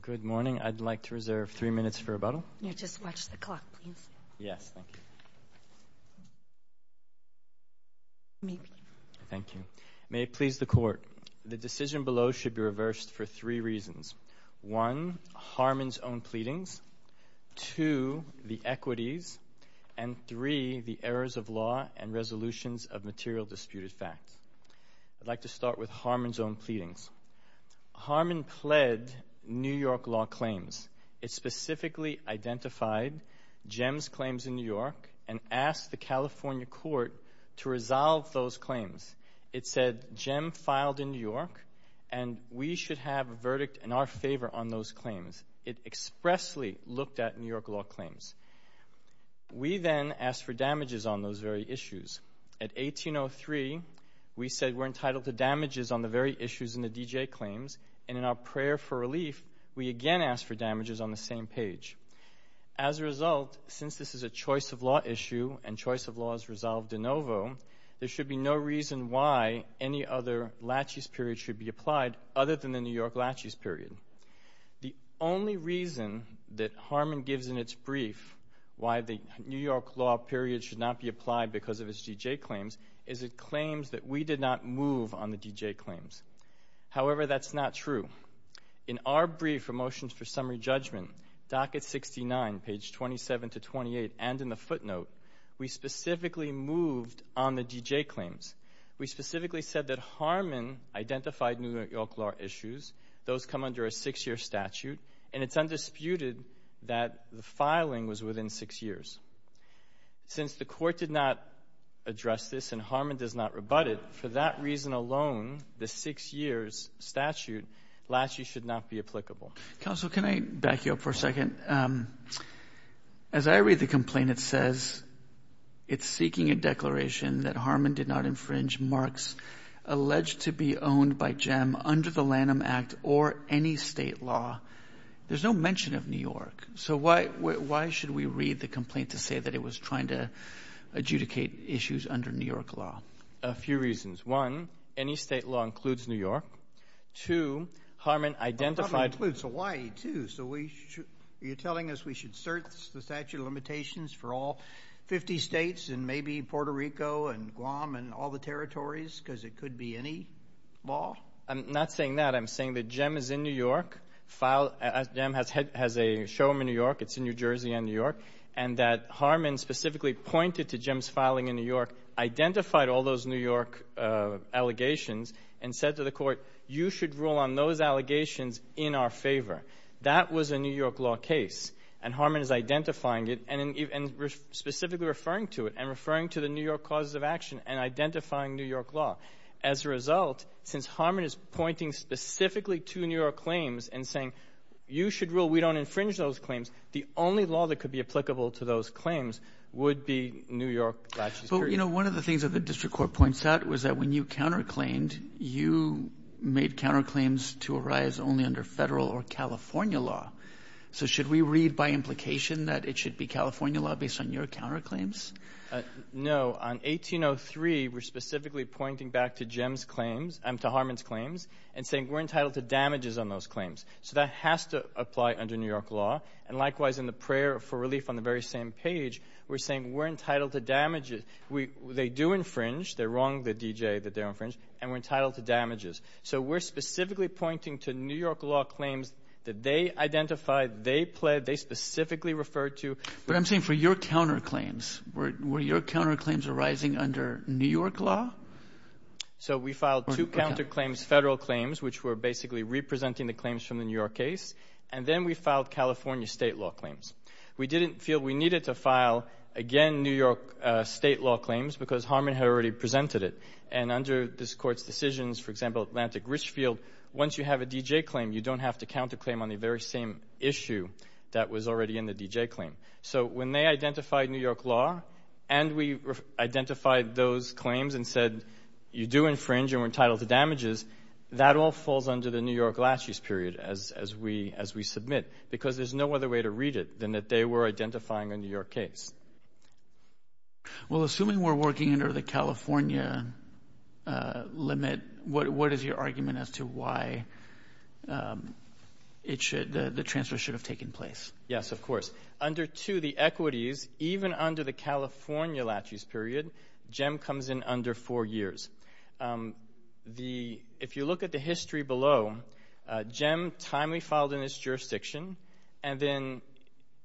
Good morning. I'd like to reserve three minutes for rebuttal. Just watch the clock, please. Yes, thank you. Thank you. May it please the Court. The decision below should be reversed for three reasons. One, Harman's own pleadings. Two, the equities. And three, the errors of law and resolutions of material disputed facts. I'd like to start with Harman's own pleadings. Harman pled New York law claims. It specifically identified JEM's claims in New York and asked the California court to resolve those claims. It said, JEM filed in New York, and we should have a verdict in our favor on those claims. It expressly looked at New York law claims. We then asked for damages on those very issues. At 1803, we said we're entitled to damages on the very issues in the D.J. claims, and in our prayer for relief, we again asked for damages on the same page. As a result, since this is a choice of law issue and choice of law is resolved de novo, there should be no reason why any other Lachey's period should be applied other than the New York Lachey's period. The only reason that Harman gives in its brief why the New York law period should not be applied because of its D.J. claims is it claims that we did not move on the D.J. claims. However, that's not true. In our brief for motions for summary judgment, docket 69, page 27 to 28, and in the footnote, we specifically moved on the D.J. claims. We specifically said that Harman identified New York law issues. Those come under a six-year statute, and it's undisputed that the filing was within six years. Since the court did not address this and Harman does not rebut it, for that reason alone, the six-years statute, Lachey should not be applicable. Counsel, can I back you up for a second? As I read the complaint, it says it's seeking a declaration that Harman did not infringe alleged to be owned by JEM under the Lanham Act or any state law. There's no mention of New York, so why should we read the complaint to say that it was trying to adjudicate issues under New York law? A few reasons. One, any state law includes New York. Two, Harman identified. Harman includes Hawaii, too, so are you telling us we should search the statute of limitations for all 50 states and maybe Puerto Rico and Guam and all the territories because it could be any law? I'm not saying that. I'm saying that JEM is in New York. JEM has a showroom in New York. It's in New Jersey and New York, and that Harman specifically pointed to JEM's filing in New York, identified all those New York allegations, and said to the court, you should rule on those allegations in our favor. That was a New York law case, and Harman is identifying it and specifically referring to it and referring to the New York causes of action and identifying New York law. As a result, since Harman is pointing specifically to New York claims and saying, you should rule we don't infringe those claims, the only law that could be applicable to those claims would be New York. But, you know, one of the things that the district court points out was that when you counterclaimed, you made counterclaims to arise only under Federal or California law. So should we read by implication that it should be California law based on your counterclaims? On 1803, we're specifically pointing back to JEM's claims, to Harman's claims, and saying we're entitled to damages on those claims. So that has to apply under New York law. And likewise, in the prayer for relief on the very same page, we're saying we're entitled to damages. They do infringe. They wrong the DJ that they infringe, and we're entitled to damages. So we're specifically pointing to New York law claims that they identified, they pled, they specifically referred to. But I'm saying for your counterclaims, were your counterclaims arising under New York law? So we filed two counterclaims, Federal claims, which were basically representing the claims from the New York case. And then we filed California state law claims. We didn't feel we needed to file, again, New York state law claims, because Harman had already presented it. And under this Court's decisions, for example, Atlantic Richfield, once you have a DJ claim, you don't have to counterclaim on the very same issue that was already in the DJ claim. So when they identified New York law and we identified those claims and said you do infringe and we're entitled to damages, that all falls under the New York last use period as we submit, because there's no other way to read it than that they were identifying a New York case. Well, assuming we're working under the California limit, what is your argument as to why the transfer should have taken place? Yes, of course. Under two, the equities, even under the California last use period, JEM comes in under four years. If you look at the history below, JEM timely filed in its jurisdiction, and then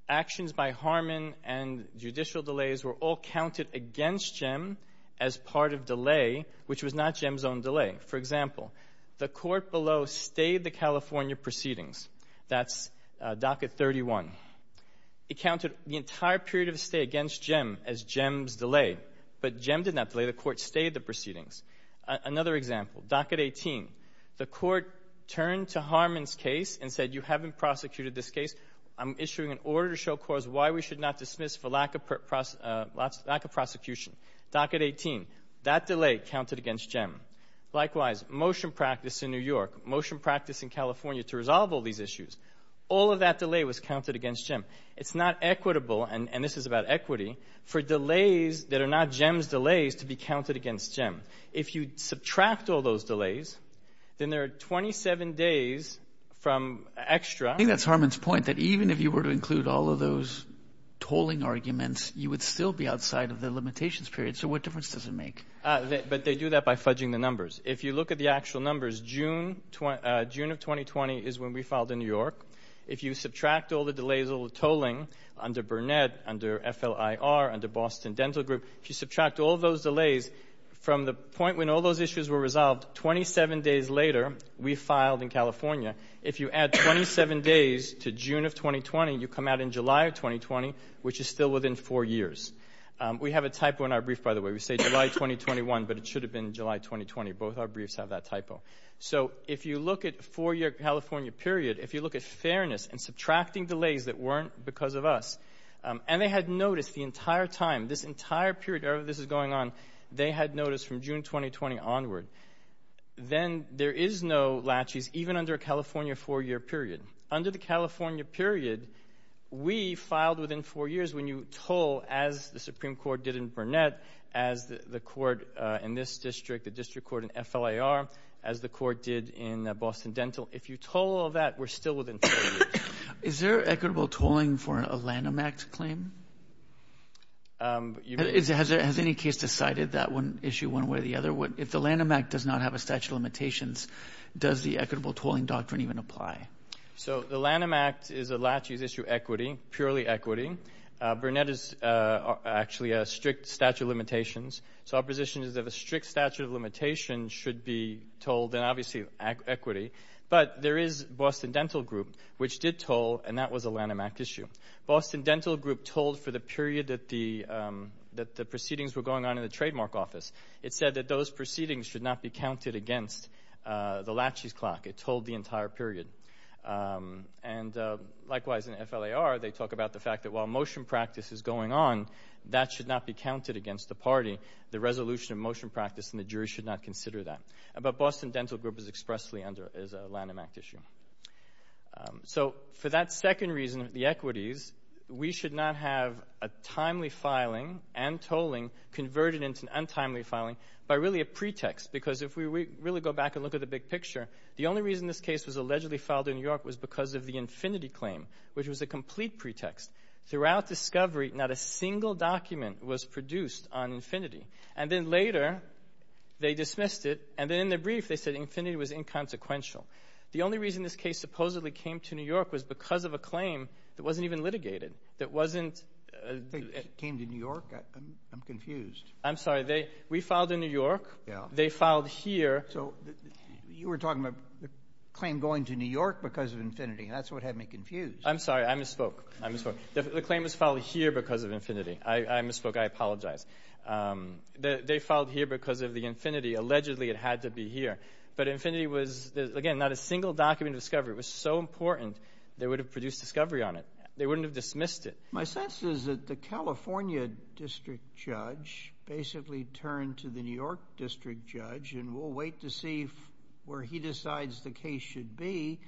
actions by Harman and judicial delays were all counted against JEM as part of delay, which was not JEM's own delay. For example, the court below stayed the California proceedings. That's docket 31. It counted the entire period of stay against JEM as JEM's delay, but JEM did not delay. The court stayed the proceedings. Another example, docket 18. The court turned to Harman's case and said, you haven't prosecuted this case. I'm issuing an order to show courts why we should not dismiss for lack of prosecution. Docket 18, that delay counted against JEM. Likewise, motion practice in New York, motion practice in California to resolve all these issues, all of that delay was counted against JEM. It's not equitable, and this is about equity, for delays that are not JEM's delays to be counted against JEM. If you subtract all those delays, then there are 27 days from extra. I think that's Harman's point, that even if you were to include all of those tolling arguments, you would still be outside of the limitations period. So what difference does it make? But they do that by fudging the numbers. If you look at the actual numbers, June of 2020 is when we filed in New York. If you subtract all the delays of tolling under Burnett, under FLIR, under Boston Dental Group, if you subtract all those delays from the point when all those issues were resolved, 27 days later, we filed in California. If you add 27 days to June of 2020, you come out in July of 2020, which is still within four years. We have a typo in our brief, by the way. We say July 2021, but it should have been July 2020. Both our briefs have that typo. So if you look at a four-year California period, if you look at fairness and subtracting delays that weren't because of us, and they had noticed the entire time, this entire period, however this is going on, they had noticed from June 2020 onward, then there is no latches, even under a California four-year period. Under the California period, we filed within four years when you toll, as the Supreme Court did in Burnett, as the court in this district, the district court in FLIR, as the court did in Boston Dental. If you toll all that, we're still within four years. Is there equitable tolling for a Lanham Act claim? Has any case decided that one issue one way or the other? If the Lanham Act does not have a statute of limitations, does the equitable tolling doctrine even apply? So the Lanham Act is a latches issue equity, purely equity. Burnett is actually a strict statute of limitations. So our position is that a strict statute of limitations should be tolled, and obviously equity. But there is Boston Dental Group, which did toll, and that was a Lanham Act issue. Boston Dental Group tolled for the period that the proceedings were going on in the trademark office. It said that those proceedings should not be counted against the latches clock. It tolled the entire period. And likewise, in FLIR, they talk about the fact that while motion practice is going on, that should not be counted against the party. The resolution of motion practice and the jury should not consider that. But Boston Dental Group is expressly under a Lanham Act issue. So for that second reason of the equities, we should not have a timely filing and tolling converted into an untimely filing by really a pretext. Because if we really go back and look at the big picture, the only reason this case was allegedly filed in New York was because of the infinity claim, which was a complete pretext. Throughout discovery, not a single document was produced on infinity. And then later, they dismissed it. And then in their brief, they said infinity was inconsequential. The only reason this case supposedly came to New York was because of a claim that wasn't even litigated, that wasn't — It came to New York? I'm confused. I'm sorry. We filed in New York. They filed here. So you were talking about the claim going to New York because of infinity. That's what had me confused. I'm sorry. I misspoke. I misspoke. The claim was filed here because of infinity. I misspoke. I apologize. They filed here because of the infinity. Allegedly, it had to be here. But infinity was, again, not a single document of discovery. It was so important they would have produced discovery on it. They wouldn't have dismissed it. My sense is that the California district judge basically turned to the New York district judge, and we'll wait to see where he decides the case should be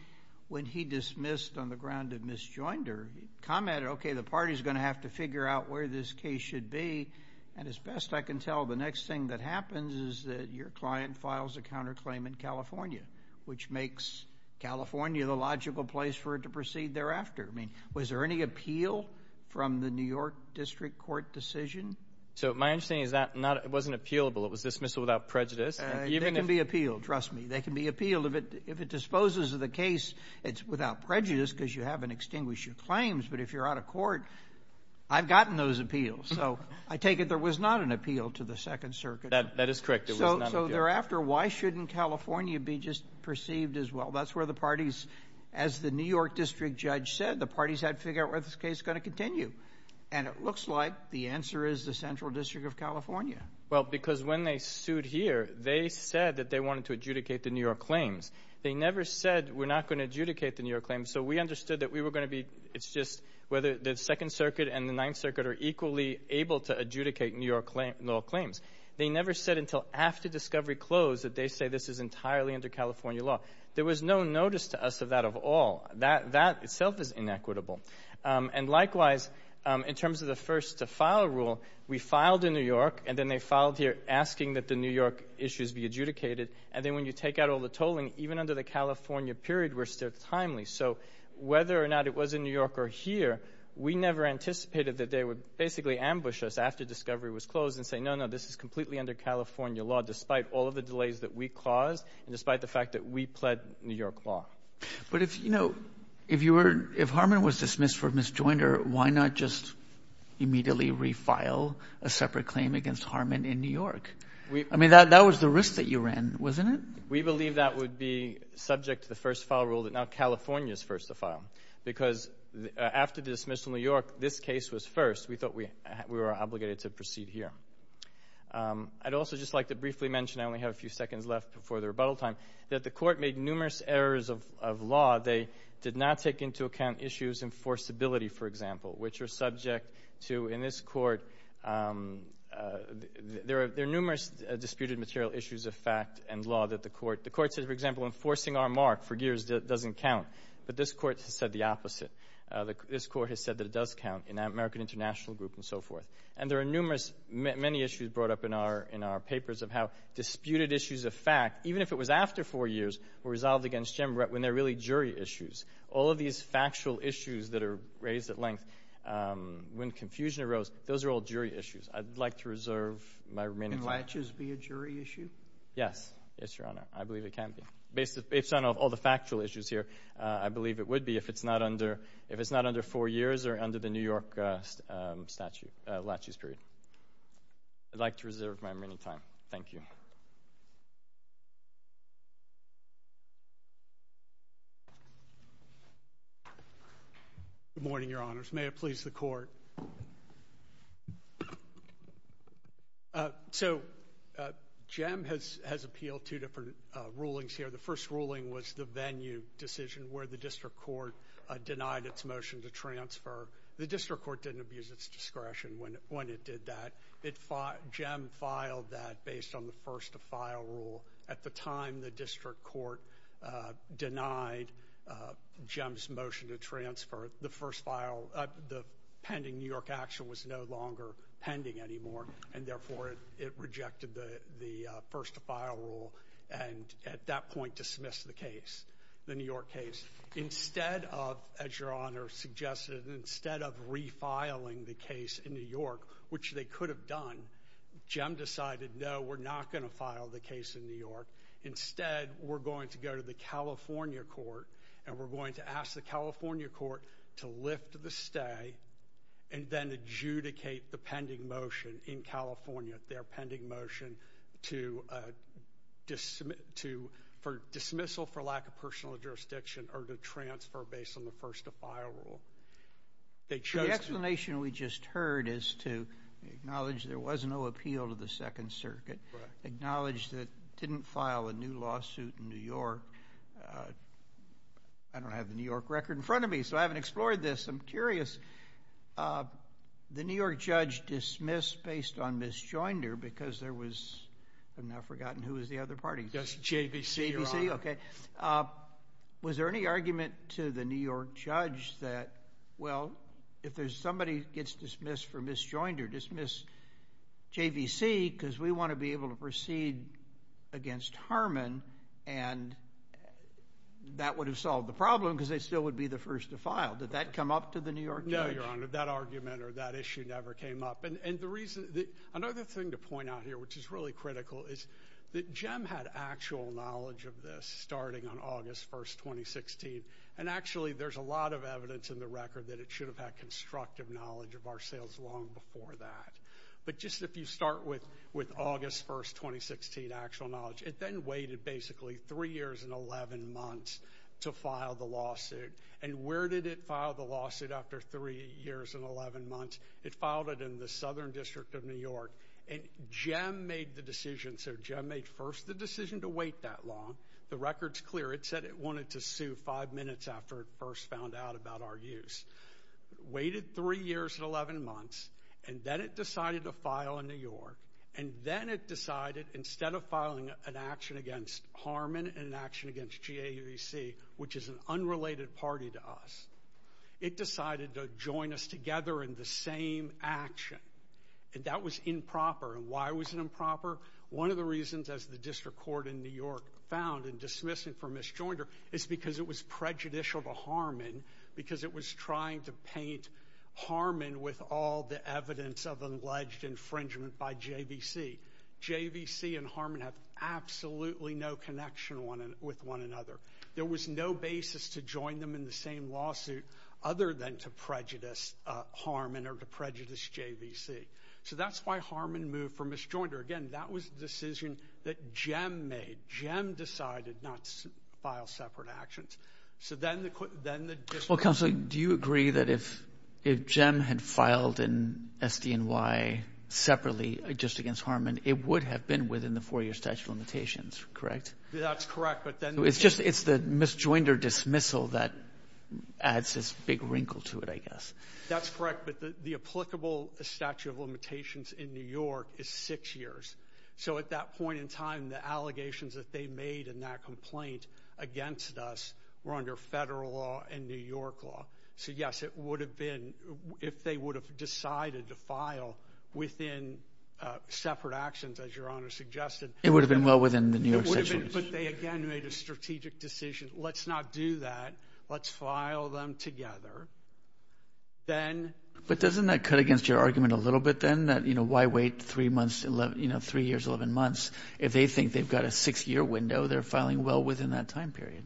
when he dismissed on the ground of misjoinder. He commented, okay, the party's going to have to figure out where this case should be. And as best I can tell, the next thing that happens is that your client files a counterclaim in California, which makes California the logical place for it to proceed thereafter. I mean, was there any appeal from the New York district court decision? So my understanding is that it wasn't appealable. It was dismissal without prejudice. They can be appealed. Trust me. They can be appealed. If it disposes of the case, it's without prejudice because you haven't extinguished your claims. But if you're out of court, I've gotten those appeals. So I take it there was not an appeal to the Second Circuit. That is correct. So thereafter, why shouldn't California be just perceived as, well, that's where the parties, as the New York district judge said, the parties had to figure out where this case was going to continue. And it looks like the answer is the Central District of California. Well, because when they sued here, they said that they wanted to adjudicate the New York claims. They never said we're not going to adjudicate the New York claims. So we understood that we were going to be, it's just whether the Second Circuit and the Ninth Circuit are equally able to adjudicate New York law claims. They never said until after discovery closed that they say this is entirely under California law. There was no notice to us of that at all. That itself is inequitable. And likewise, in terms of the first to file rule, we filed in New York, and then they filed here asking that the New York issues be adjudicated. And then when you take out all the tolling, even under the California period, we're still timely. So whether or not it was in New York or here, we never anticipated that they would basically ambush us after discovery was closed and say, no, no, this is completely under California law, despite all of the delays that we caused and despite the fact that we pled New York law. But if, you know, if Harmon was dismissed for misjoinder, why not just immediately refile a separate claim against Harmon in New York? I mean, that was the risk that you ran, wasn't it? We believe that would be subject to the first file rule that now California is first to file because after the dismissal in New York, this case was first. We thought we were obligated to proceed here. I'd also just like to briefly mention, I only have a few seconds left before the rebuttal time, that the court made numerous errors of law. They did not take into account issues in forcibility, for example, which are subject to, in this court, there are numerous disputed material issues of fact and law that the court, the court says, for example, enforcing our mark for years doesn't count. But this court has said the opposite. This court has said that it does count in American International Group and so forth. And there are numerous, many issues brought up in our papers of how disputed issues of fact, even if it was after four years, were resolved against Jim when they're really jury issues. All of these factual issues that are raised at length when confusion arose, those are all jury issues. I'd like to reserve my remaining time. Can laches be a jury issue? Yes. Yes, Your Honor. I believe it can be. Based on all the factual issues here, I believe it would be if it's not under four years or under the New York statute, laches period. I'd like to reserve my remaining time. Thank you. Thank you. Good morning, Your Honors. May it please the court. So, Jim has appealed two different rulings here. The first ruling was the venue decision where the district court denied its motion to transfer. The district court didn't abuse its discretion when it did that. Jim filed that based on the first-to-file rule. At the time the district court denied Jim's motion to transfer, the pending New York action was no longer pending anymore, and therefore it rejected the first-to-file rule and at that point dismissed the case, the New York case. Instead of, as Your Honor suggested, instead of refiling the case in New York, which they could have done, Jim decided, no, we're not going to file the case in New York. Instead, we're going to go to the California court, and we're going to ask the California court to lift the stay and then adjudicate the pending motion in California, their pending motion to dismissal for lack of personal jurisdiction or to transfer based on the first-to-file rule. The explanation we just heard is to acknowledge there was no appeal to the Second Circuit, acknowledge that it didn't file a new lawsuit in New York. I don't have the New York record in front of me, so I haven't explored this. I'm curious. The New York judge dismissed based on misjoinder because there was, I've now forgotten who was the other party. JVC, Your Honor. JVC, okay. Was there any argument to the New York judge that, well, if somebody gets dismissed for misjoinder, dismiss JVC, because we want to be able to proceed against Harmon, and that would have solved the problem because they still would be the first to file. Did that come up to the New York judge? No, Your Honor. That argument or that issue never came up. Another thing to point out here, which is really critical, is that JEM had actual knowledge of this starting on August 1, 2016, and actually there's a lot of evidence in the record that it should have had constructive knowledge of our sales long before that. But just if you start with August 1, 2016, actual knowledge, it then waited basically three years and 11 months to file the lawsuit. And where did it file the lawsuit after three years and 11 months? It filed it in the Southern District of New York, and JEM made the decision. So JEM made first the decision to wait that long. The record's clear. It said it wanted to sue five minutes after it first found out about our use. Waited three years and 11 months, and then it decided to file in New York. And then it decided, instead of filing an action against Harmon and an action against JVC, which is an unrelated party to us, it decided to join us together in the same action. And that was improper. And why was it improper? One of the reasons, as the district court in New York found in dismissing from Ms. Joinder, is because it was prejudicial to Harmon because it was trying to paint Harmon with all the evidence of alleged infringement by JVC. JVC and Harmon have absolutely no connection with one another. There was no basis to join them in the same lawsuit other than to prejudice Harmon or to prejudice JVC. So that's why Harmon moved from Ms. Joinder. Again, that was a decision that JEM made. JEM decided not to file separate actions. So then the district court ---- Well, Counsel, do you agree that if JEM had filed in SDNY separately, just against Harmon, it would have been within the four-year statute of limitations, correct? That's correct. It's the Ms. Joinder dismissal that adds this big wrinkle to it, I guess. That's correct. But the applicable statute of limitations in New York is six years. So at that point in time, the allegations that they made in that complaint against us were under federal law and New York law. So, yes, it would have been, if they would have decided to file within separate actions, as Your Honor suggested ---- It would have been well within the New York statute. But they, again, made a strategic decision. Let's not do that. Let's file them together. Then ---- But doesn't that cut against your argument a little bit, then, that why wait three years, 11 months? If they think they've got a six-year window, they're filing well within that time period.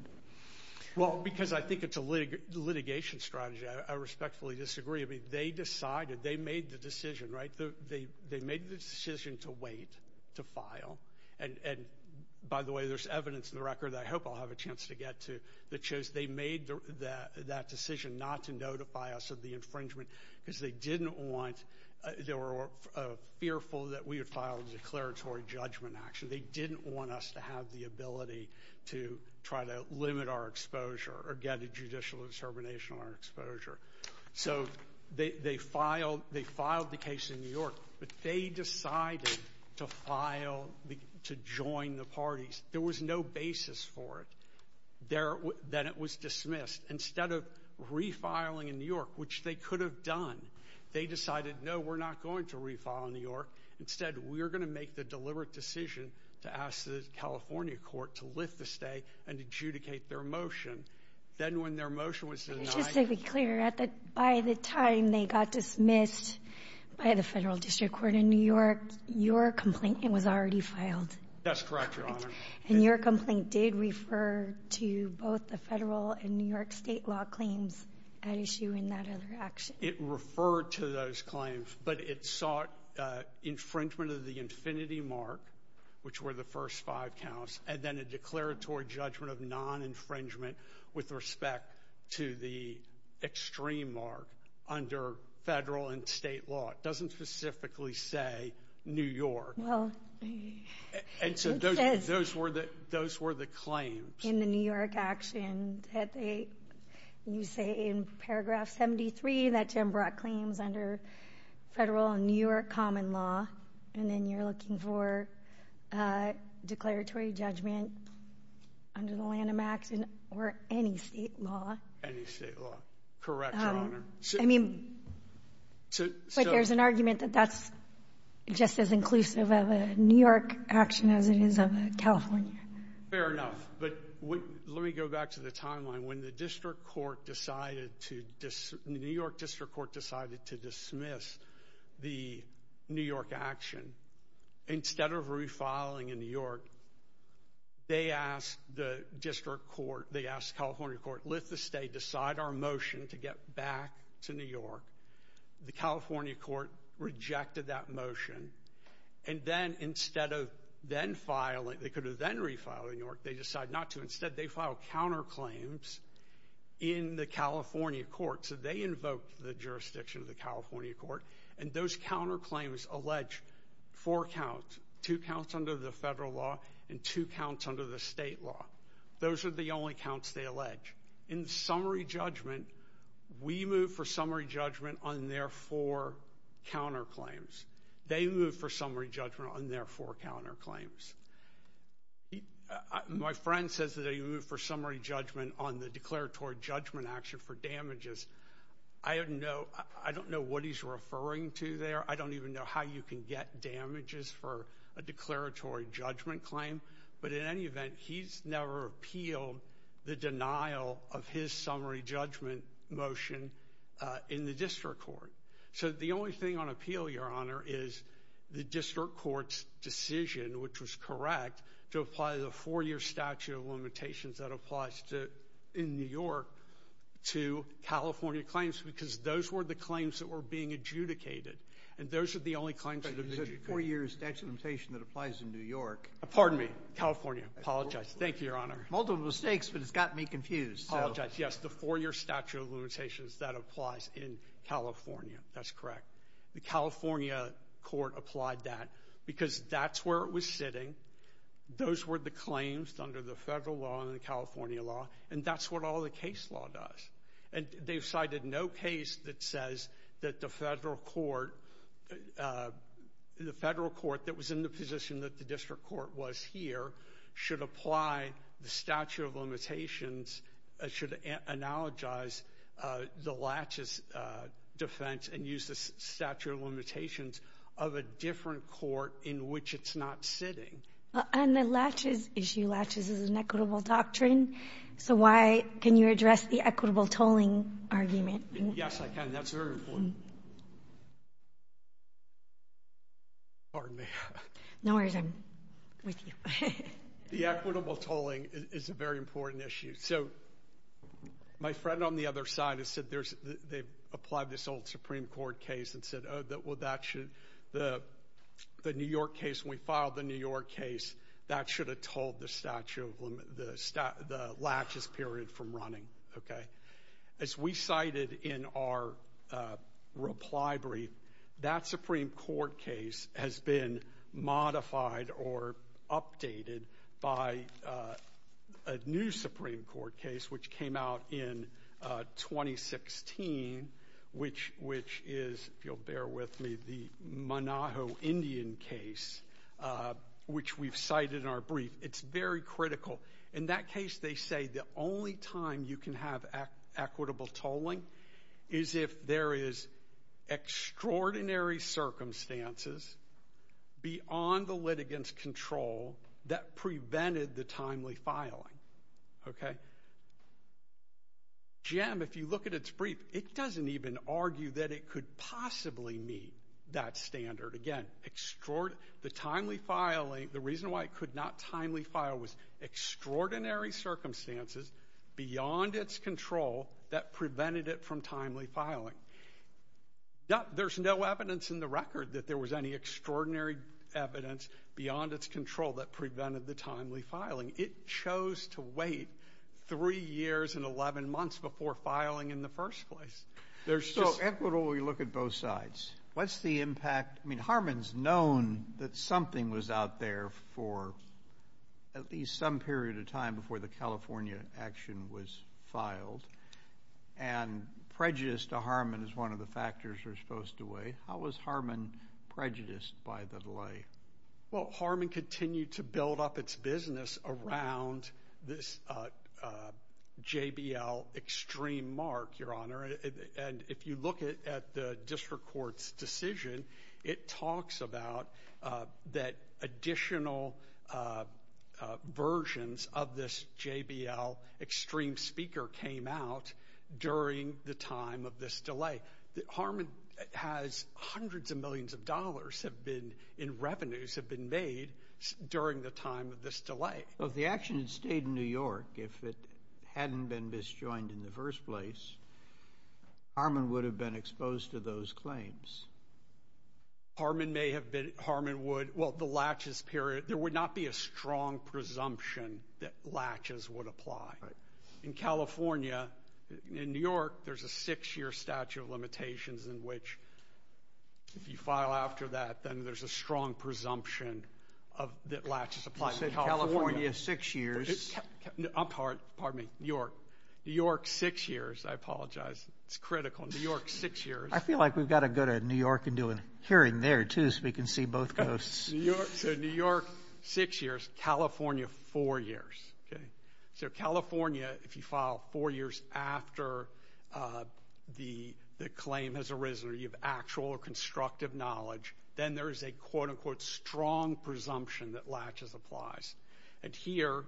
Well, because I think it's a litigation strategy. I respectfully disagree. I mean, they decided. They made the decision, right? They made the decision to wait to file. And, by the way, there's evidence in the record that I hope I'll have a chance to get to that shows they made that decision not to notify us of the infringement because they didn't want ---- They were fearful that we would file a declaratory judgment action. They didn't want us to have the ability to try to limit our exposure or get a judicial determination on our exposure. So they filed the case in New York. But they decided to file, to join the parties. There was no basis for it. Then it was dismissed. Instead of refiling in New York, which they could have done, they decided, no, we're not going to refile in New York. Instead, we're going to make the deliberate decision to ask the California court to lift the stay and adjudicate their motion. Then when their motion was denied ---- Just to be clear, by the time they got dismissed by the federal district court in New York, your complaint was already filed. That's correct, Your Honor. And your complaint did refer to both the federal and New York state law claims at issue in that other action. It referred to those claims, but it sought infringement of the infinity mark, which were the first five counts, and then a declaratory judgment of non-infringement with respect to the extreme mark under federal and state law. It doesn't specifically say New York. Well, it does. Those were the claims. In the New York action, you say in paragraph 73 that Jim brought claims under federal and New York common law, and then you're looking for declaratory judgment under the Lanham Act or any state law. Any state law. Correct, Your Honor. I mean, but there's an argument that that's just as inclusive of a New York action as it is of a California. Fair enough, but let me go back to the timeline. When the New York district court decided to dismiss the New York action, instead of refiling in New York, they asked the California court, let the state decide our motion to get back to New York. The California court rejected that motion, and then instead of then filing, they could have then refiled in New York. They decided not to. Instead, they filed counterclaims in the California court, so they invoked the jurisdiction of the California court, and those counterclaims allege four counts, two counts under the federal law and two counts under the state law. Those are the only counts they allege. In summary judgment, we move for summary judgment on their four counterclaims. They move for summary judgment on their four counterclaims. My friend says that they move for summary judgment on the declaratory judgment action for damages. I don't know what he's referring to there. I don't even know how you can get damages for a declaratory judgment claim, but in any event, he's never appealed the denial of his summary judgment motion in the district court. So the only thing on appeal, Your Honor, is the district court's decision, which was correct, to apply the four-year statute of limitations that applies in New York to California claims because those were the claims that were being adjudicated, and those are the only claims that have been adjudicated. The four-year statute of limitations that applies in New York. Pardon me, California. I apologize. Thank you, Your Honor. Multiple mistakes, but it's gotten me confused. I apologize. Yes, the four-year statute of limitations that applies in California. That's correct. The California court applied that because that's where it was sitting. Those were the claims under the federal law and the California law, and that's what all the case law does. And they've cited no case that says that the federal court that was in the position that the district court was here should apply the statute of limitations, should analogize the Latches defense and use the statute of limitations of a different court in which it's not sitting. On the Latches issue, Latches is an equitable doctrine, so why can you address the equitable tolling argument? Yes, I can. That's very important. Pardon me. No worries. I'm with you. The equitable tolling is a very important issue. So my friend on the other side has said they've applied this old Supreme Court case and said, oh, well, that should, the New York case, when we filed the New York case, that should have told the Latches period from running, okay? As we cited in our reply brief, that Supreme Court case has been modified or updated by a new Supreme Court case which came out in 2016, which is, if you'll bear with me, the Monaho Indian case, which we've cited in our brief. It's very critical. In that case, they say the only time you can have equitable tolling is if there is extraordinary circumstances beyond the litigant's control that prevented the timely filing, okay? Jim, if you look at its brief, it doesn't even argue that it could possibly meet that standard. Again, the timely filing, the reason why it could not timely file was extraordinary circumstances beyond its control that prevented it from timely filing. There's no evidence in the record that there was any extraordinary evidence beyond its control that prevented the timely filing. It chose to wait 3 years and 11 months before filing in the first place. So equitably look at both sides. What's the impact? I mean, Harmon's known that something was out there for at least some period of time before the California action was filed, and prejudice to Harmon is one of the factors we're supposed to weigh. How was Harmon prejudiced by the delay? Well, Harmon continued to build up its business around this JBL extreme mark, Your Honor, and if you look at the district court's decision, it talks about that additional versions of this JBL extreme speaker came out during the time of this delay. Harmon has hundreds of millions of dollars in revenues have been made during the time of this delay. Well, if the action had stayed in New York, if it hadn't been misjoined in the first place, Harmon would have been exposed to those claims. Harmon may have been. Harmon would. Well, the latches period, there would not be a strong presumption that latches would apply. Right. In California, in New York, there's a 6-year statute of limitations in which if you file after that, then there's a strong presumption that latches apply. You said California 6 years. Pardon me, New York. New York 6 years. I apologize. It's critical. New York 6 years. I feel like we've got to go to New York and do a hearing there, too, so we can see both coasts. So New York 6 years, California 4 years. So California, if you file 4 years after the claim has arisen or you have actual or constructive knowledge, then there is a quote, unquote, strong presumption that latches applies. And here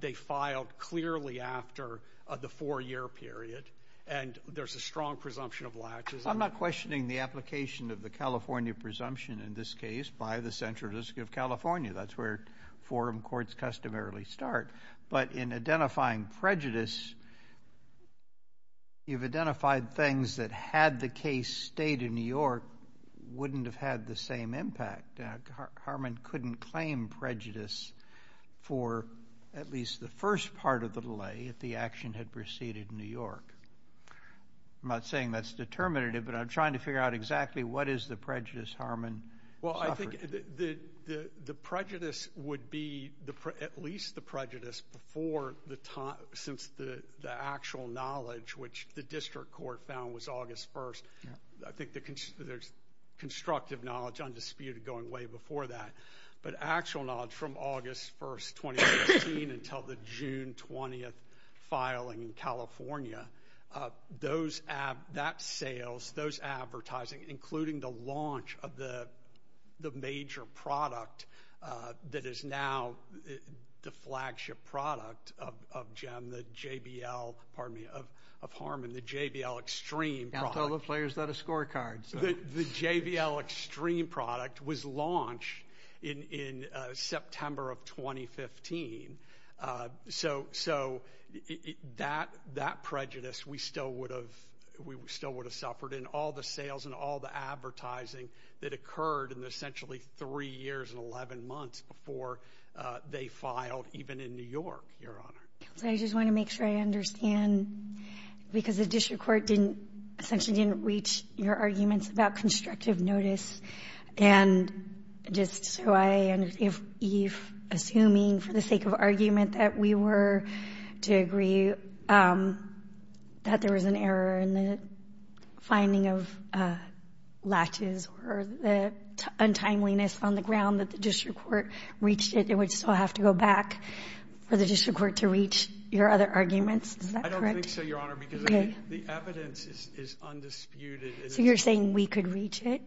they filed clearly after the 4-year period, and there's a strong presumption of latches. I'm not questioning the application of the California presumption in this case by the Central District of California. That's where forum courts customarily start. But in identifying prejudice, you've identified things that had the case stayed in New York wouldn't have had the same impact. Harman couldn't claim prejudice for at least the first part of the delay if the action had proceeded in New York. I'm not saying that's determinative, but I'm trying to figure out exactly what is the prejudice Harman suffered. Well, I think the prejudice would be at least the prejudice before the time since the actual knowledge, which the district court found was August 1st. I think there's constructive knowledge undisputed going way before that. But actual knowledge from August 1st, 2016, until the June 20th filing in California, that sales, those advertising, including the launch of the major product that is now the flagship product of JBL, pardon me, of Harman, the JBL Extreme product. I'll tell the players that a scorecard. The JBL Extreme product was launched in September of 2015. So that prejudice we still would have suffered in all the sales and all the advertising that occurred in essentially three years and 11 months before they filed even in New York, Your Honor. I just want to make sure I understand, because the district court essentially didn't reach your arguments about constructive notice. And just so I understand, if you're assuming for the sake of argument that we were to agree that there was an error in the finding of latches or the untimeliness on the ground that the district court reached it, it would still have to go back for the district court to reach your other arguments. Is that correct? I don't think so, Your Honor, because the evidence is undisputed. So you're saying we could reach it?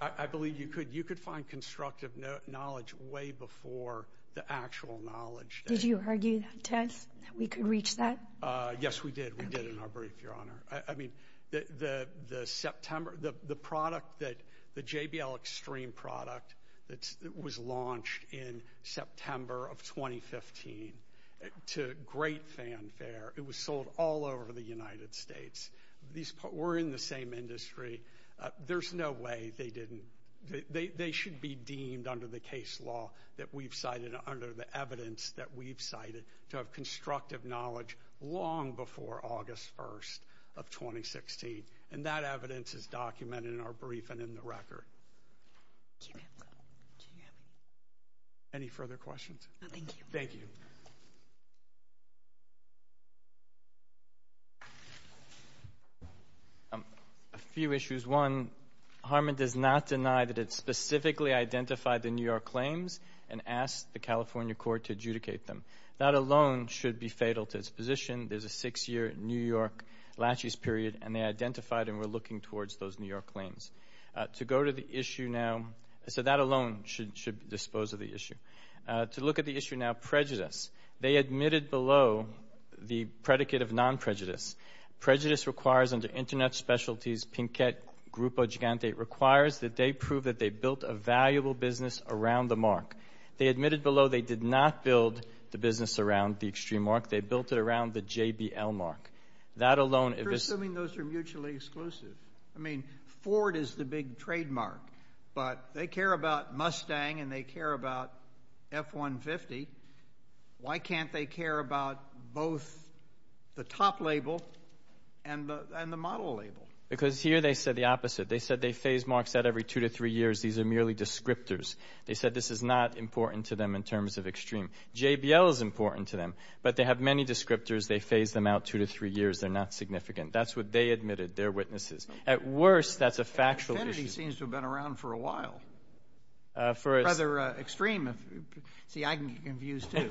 I believe you could. You could find constructive knowledge way before the actual knowledge. Did you argue, Tess, that we could reach that? Yes, we did. We did in our brief, Your Honor. The JBL Xtreme product that was launched in September of 2015 to great fanfare, it was sold all over the United States. We're in the same industry. There's no way they didn't. They should be deemed under the case law that we've cited, under the evidence that we've cited, to have constructive knowledge long before August 1st of 2016. And that evidence is documented in our brief and in the record. Any further questions? No, thank you. Thank you. A few issues. One, Harmon does not deny that it specifically identified the New York claims and asked the California court to adjudicate them. That alone should be fatal to its position. There's a six-year New York latches period, and they identified and were looking towards those New York claims. To go to the issue now, so that alone should dispose of the issue. To look at the issue now, prejudice. They admitted below the predicate of non-prejudice. Prejudice requires under Internet Specialties, Pinkett, Grupo Gigante, requires that they prove that they built a valuable business around the mark. They admitted below they did not build the business around the extreme mark. They built it around the JBL mark. That alone is... You're assuming those are mutually exclusive. I mean, Ford is the big trademark, but they care about Mustang and they care about F-150. Why can't they care about both the top label and the model label? Because here they said the opposite. They said they phase marks out every two to three years. These are merely descriptors. They said this is not important to them in terms of extreme. JBL is important to them, but they have many descriptors. They phase them out two to three years. They're not significant. That's what they admitted, their witnesses. At worst, that's a factual issue. Infinity seems to have been around for a while. Rather extreme. See, I can get confused, too.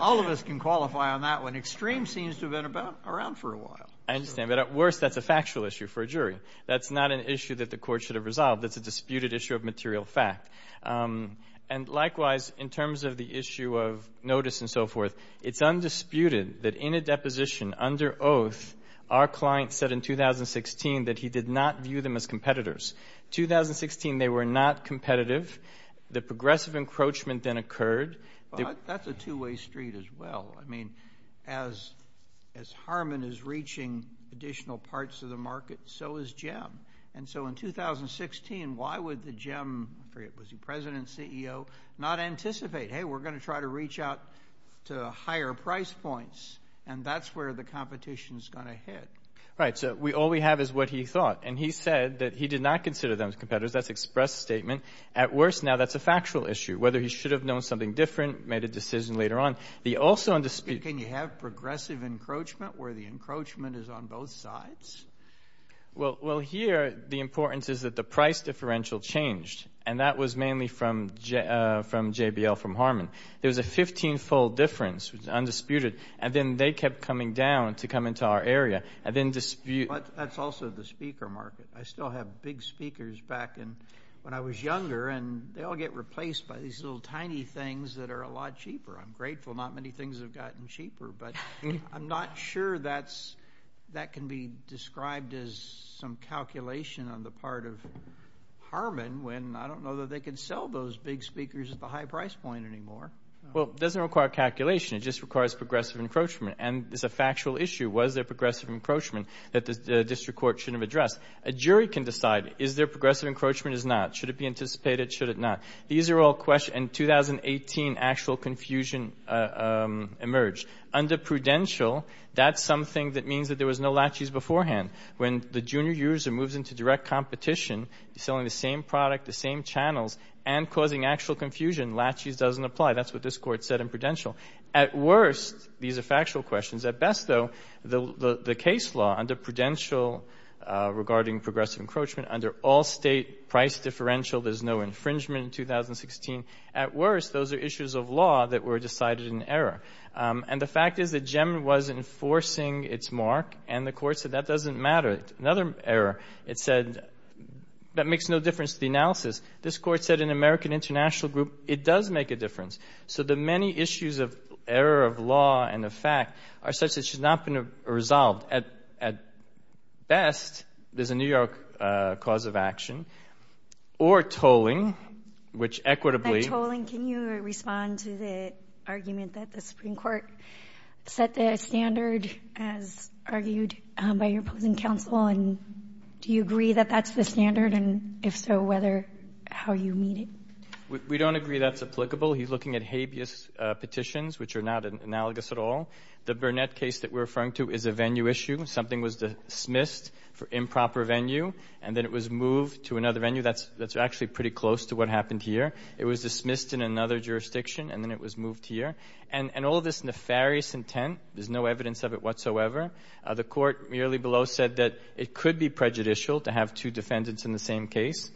All of us can qualify on that one. Extreme seems to have been around for a while. I understand. But at worst, that's a factual issue for a jury. That's not an issue that the court should have resolved. That's a disputed issue of material fact. And likewise, in terms of the issue of notice and so forth, it's undisputed that in a deposition under oath, our client said in 2016 that he did not view them as competitors. 2016, they were not competitive. The progressive encroachment then occurred. That's a two-way street as well. I mean, as Harmon is reaching additional parts of the market, so is JEM. And so in 2016, why would the JEM, I forget, was he president, CEO, not anticipate, hey, we're going to try to reach out to higher price points, and that's where the competition is going to hit. Right, so all we have is what he thought. And he said that he did not consider them competitors. That's express statement. At worst, now that's a factual issue. Whether he should have known something different, made a decision later on. Can you have progressive encroachment where the encroachment is on both sides? Well, here the importance is that the price differential changed, and that was mainly from JBL, from Harmon. There was a 15-fold difference. It was undisputed. And then they kept coming down to come into our area and then dispute. But that's also the speaker market. I still have big speakers back when I was younger, and they all get replaced by these little tiny things that are a lot cheaper. I'm grateful not many things have gotten cheaper, but I'm not sure that can be described as some calculation on the part of Harmon when I don't know that they can sell those big speakers at the high price point anymore. Well, it doesn't require calculation. It just requires progressive encroachment. And it's a factual issue. Was there progressive encroachment that the district court shouldn't have addressed? A jury can decide. Is there progressive encroachment? Is not. Should it be anticipated? Should it not? These are all questions. In 2018, actual confusion emerged. Under prudential, that's something that means that there was no laches beforehand. When the junior user moves into direct competition, selling the same product, the same channels, and causing actual confusion, laches doesn't apply. That's what this court said in prudential. At worst, these are factual questions. At best, though, the case law under prudential regarding progressive encroachment, under all-state price differential, there's no infringement in 2016. At worst, those are issues of law that were decided in error. And the fact is that GEM was enforcing its mark, and the court said that doesn't matter. Another error, it said that makes no difference to the analysis. This court said in American International Group, it does make a difference. So the many issues of error of law and of fact are such that it should not have been resolved. At best, there's a New York cause of action, or tolling, which equitably. By tolling, can you respond to the argument that the Supreme Court set the standard, as argued by your opposing counsel? And do you agree that that's the standard? And if so, how you meet it? We don't agree that's applicable. He's looking at habeas petitions, which are not analogous at all. The Burnett case that we're referring to is a venue issue. Something was dismissed for improper venue, and then it was moved to another venue. That's actually pretty close to what happened here. It was dismissed in another jurisdiction, and then it was moved here. And all this nefarious intent, there's no evidence of it whatsoever. The court merely below said that it could be prejudicial to have two defendants in the same case.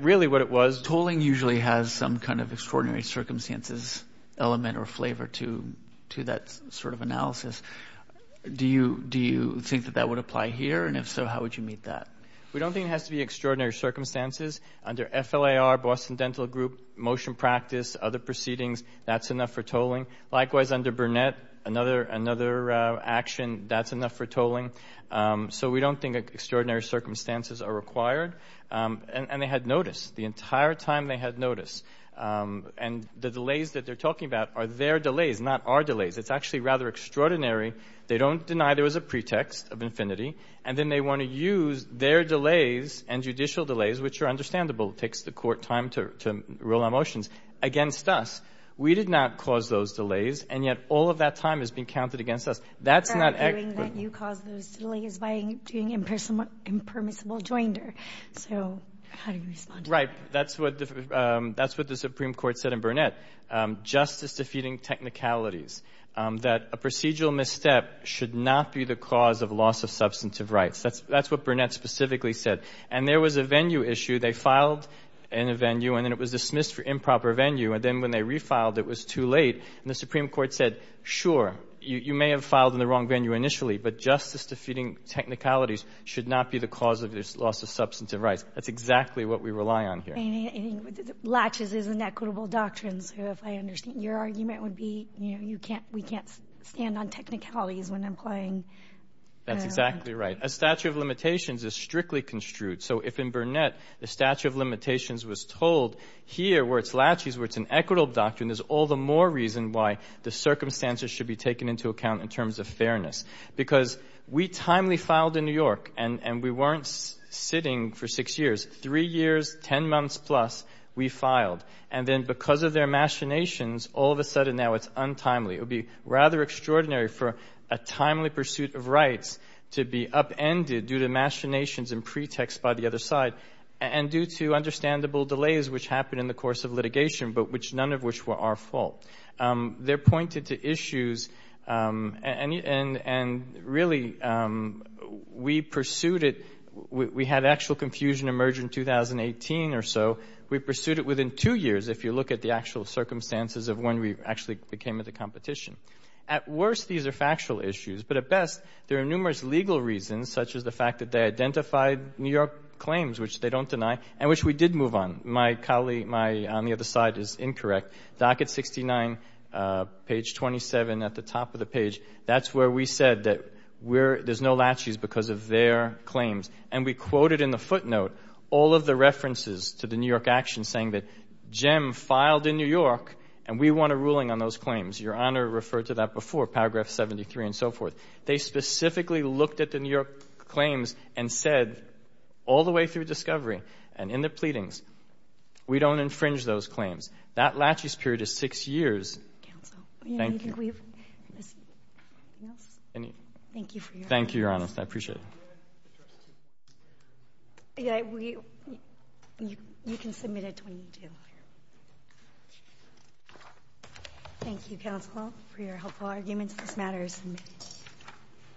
Really what it was. Tolling usually has some kind of extraordinary circumstances element or flavor to that sort of analysis. Do you think that that would apply here? And if so, how would you meet that? We don't think it has to be extraordinary circumstances. Under FLIR, Boston Dental Group, motion practice, other proceedings, that's enough for tolling. Likewise, under Burnett, another action, that's enough for tolling. So we don't think extraordinary circumstances are required. And they had notice the entire time they had notice. And the delays that they're talking about are their delays, not our delays. It's actually rather extraordinary. They don't deny there was a pretext of infinity. And then they want to use their delays and judicial delays, which are understandable, takes the court time to rule on motions, against us. We did not cause those delays, and yet all of that time is being counted against us. They're arguing that you caused those delays by doing impermissible joinder. So how do you respond to that? Right. That's what the Supreme Court said in Burnett, justice-defeating technicalities, that a procedural misstep should not be the cause of loss of substantive rights. That's what Burnett specifically said. And there was a venue issue. They filed in a venue, and then it was dismissed for improper venue. And then when they refiled, it was too late. And the Supreme Court said, sure, you may have filed in the wrong venue initially, but justice-defeating technicalities should not be the cause of this loss of substantive rights. That's exactly what we rely on here. Latches is inequitable doctrines, if I understand. Your argument would be we can't stand on technicalities when I'm playing. That's exactly right. A statute of limitations is strictly construed. So if in Burnett the statute of limitations was told, here where it's latches, where it's an equitable doctrine, there's all the more reason why the circumstances should be taken into account in terms of fairness. Because we timely filed in New York, and we weren't sitting for six years. Three years, ten months plus, we filed. And then because of their machinations, all of a sudden now it's untimely. It would be rather extraordinary for a timely pursuit of rights to be upended due to machinations and pretexts by the other side, and due to understandable delays which happened in the course of litigation, but none of which were our fault. They're pointed to issues, and really we pursued it. We had actual confusion emerge in 2018 or so. We pursued it within two years, if you look at the actual circumstances of when we actually came into competition. At worst, these are factual issues, but at best there are numerous legal reasons, such as the fact that they identified New York claims, which they don't deny, and which we did move on. My colleague on the other side is incorrect. Docket 69, page 27 at the top of the page, that's where we said that there's no latches because of their claims. And we quoted in the footnote all of the references to the New York actions, saying that JEM filed in New York, and we want a ruling on those claims. Your Honor referred to that before, paragraph 73 and so forth. They specifically looked at the New York claims and said all the way through discovery and in their pleadings, we don't infringe those claims. That latches period is six years. Thank you. Thank you, Your Honor. I appreciate it. You can submit it when you do. Thank you, counsel, for your helpful arguments. This matter is submitted.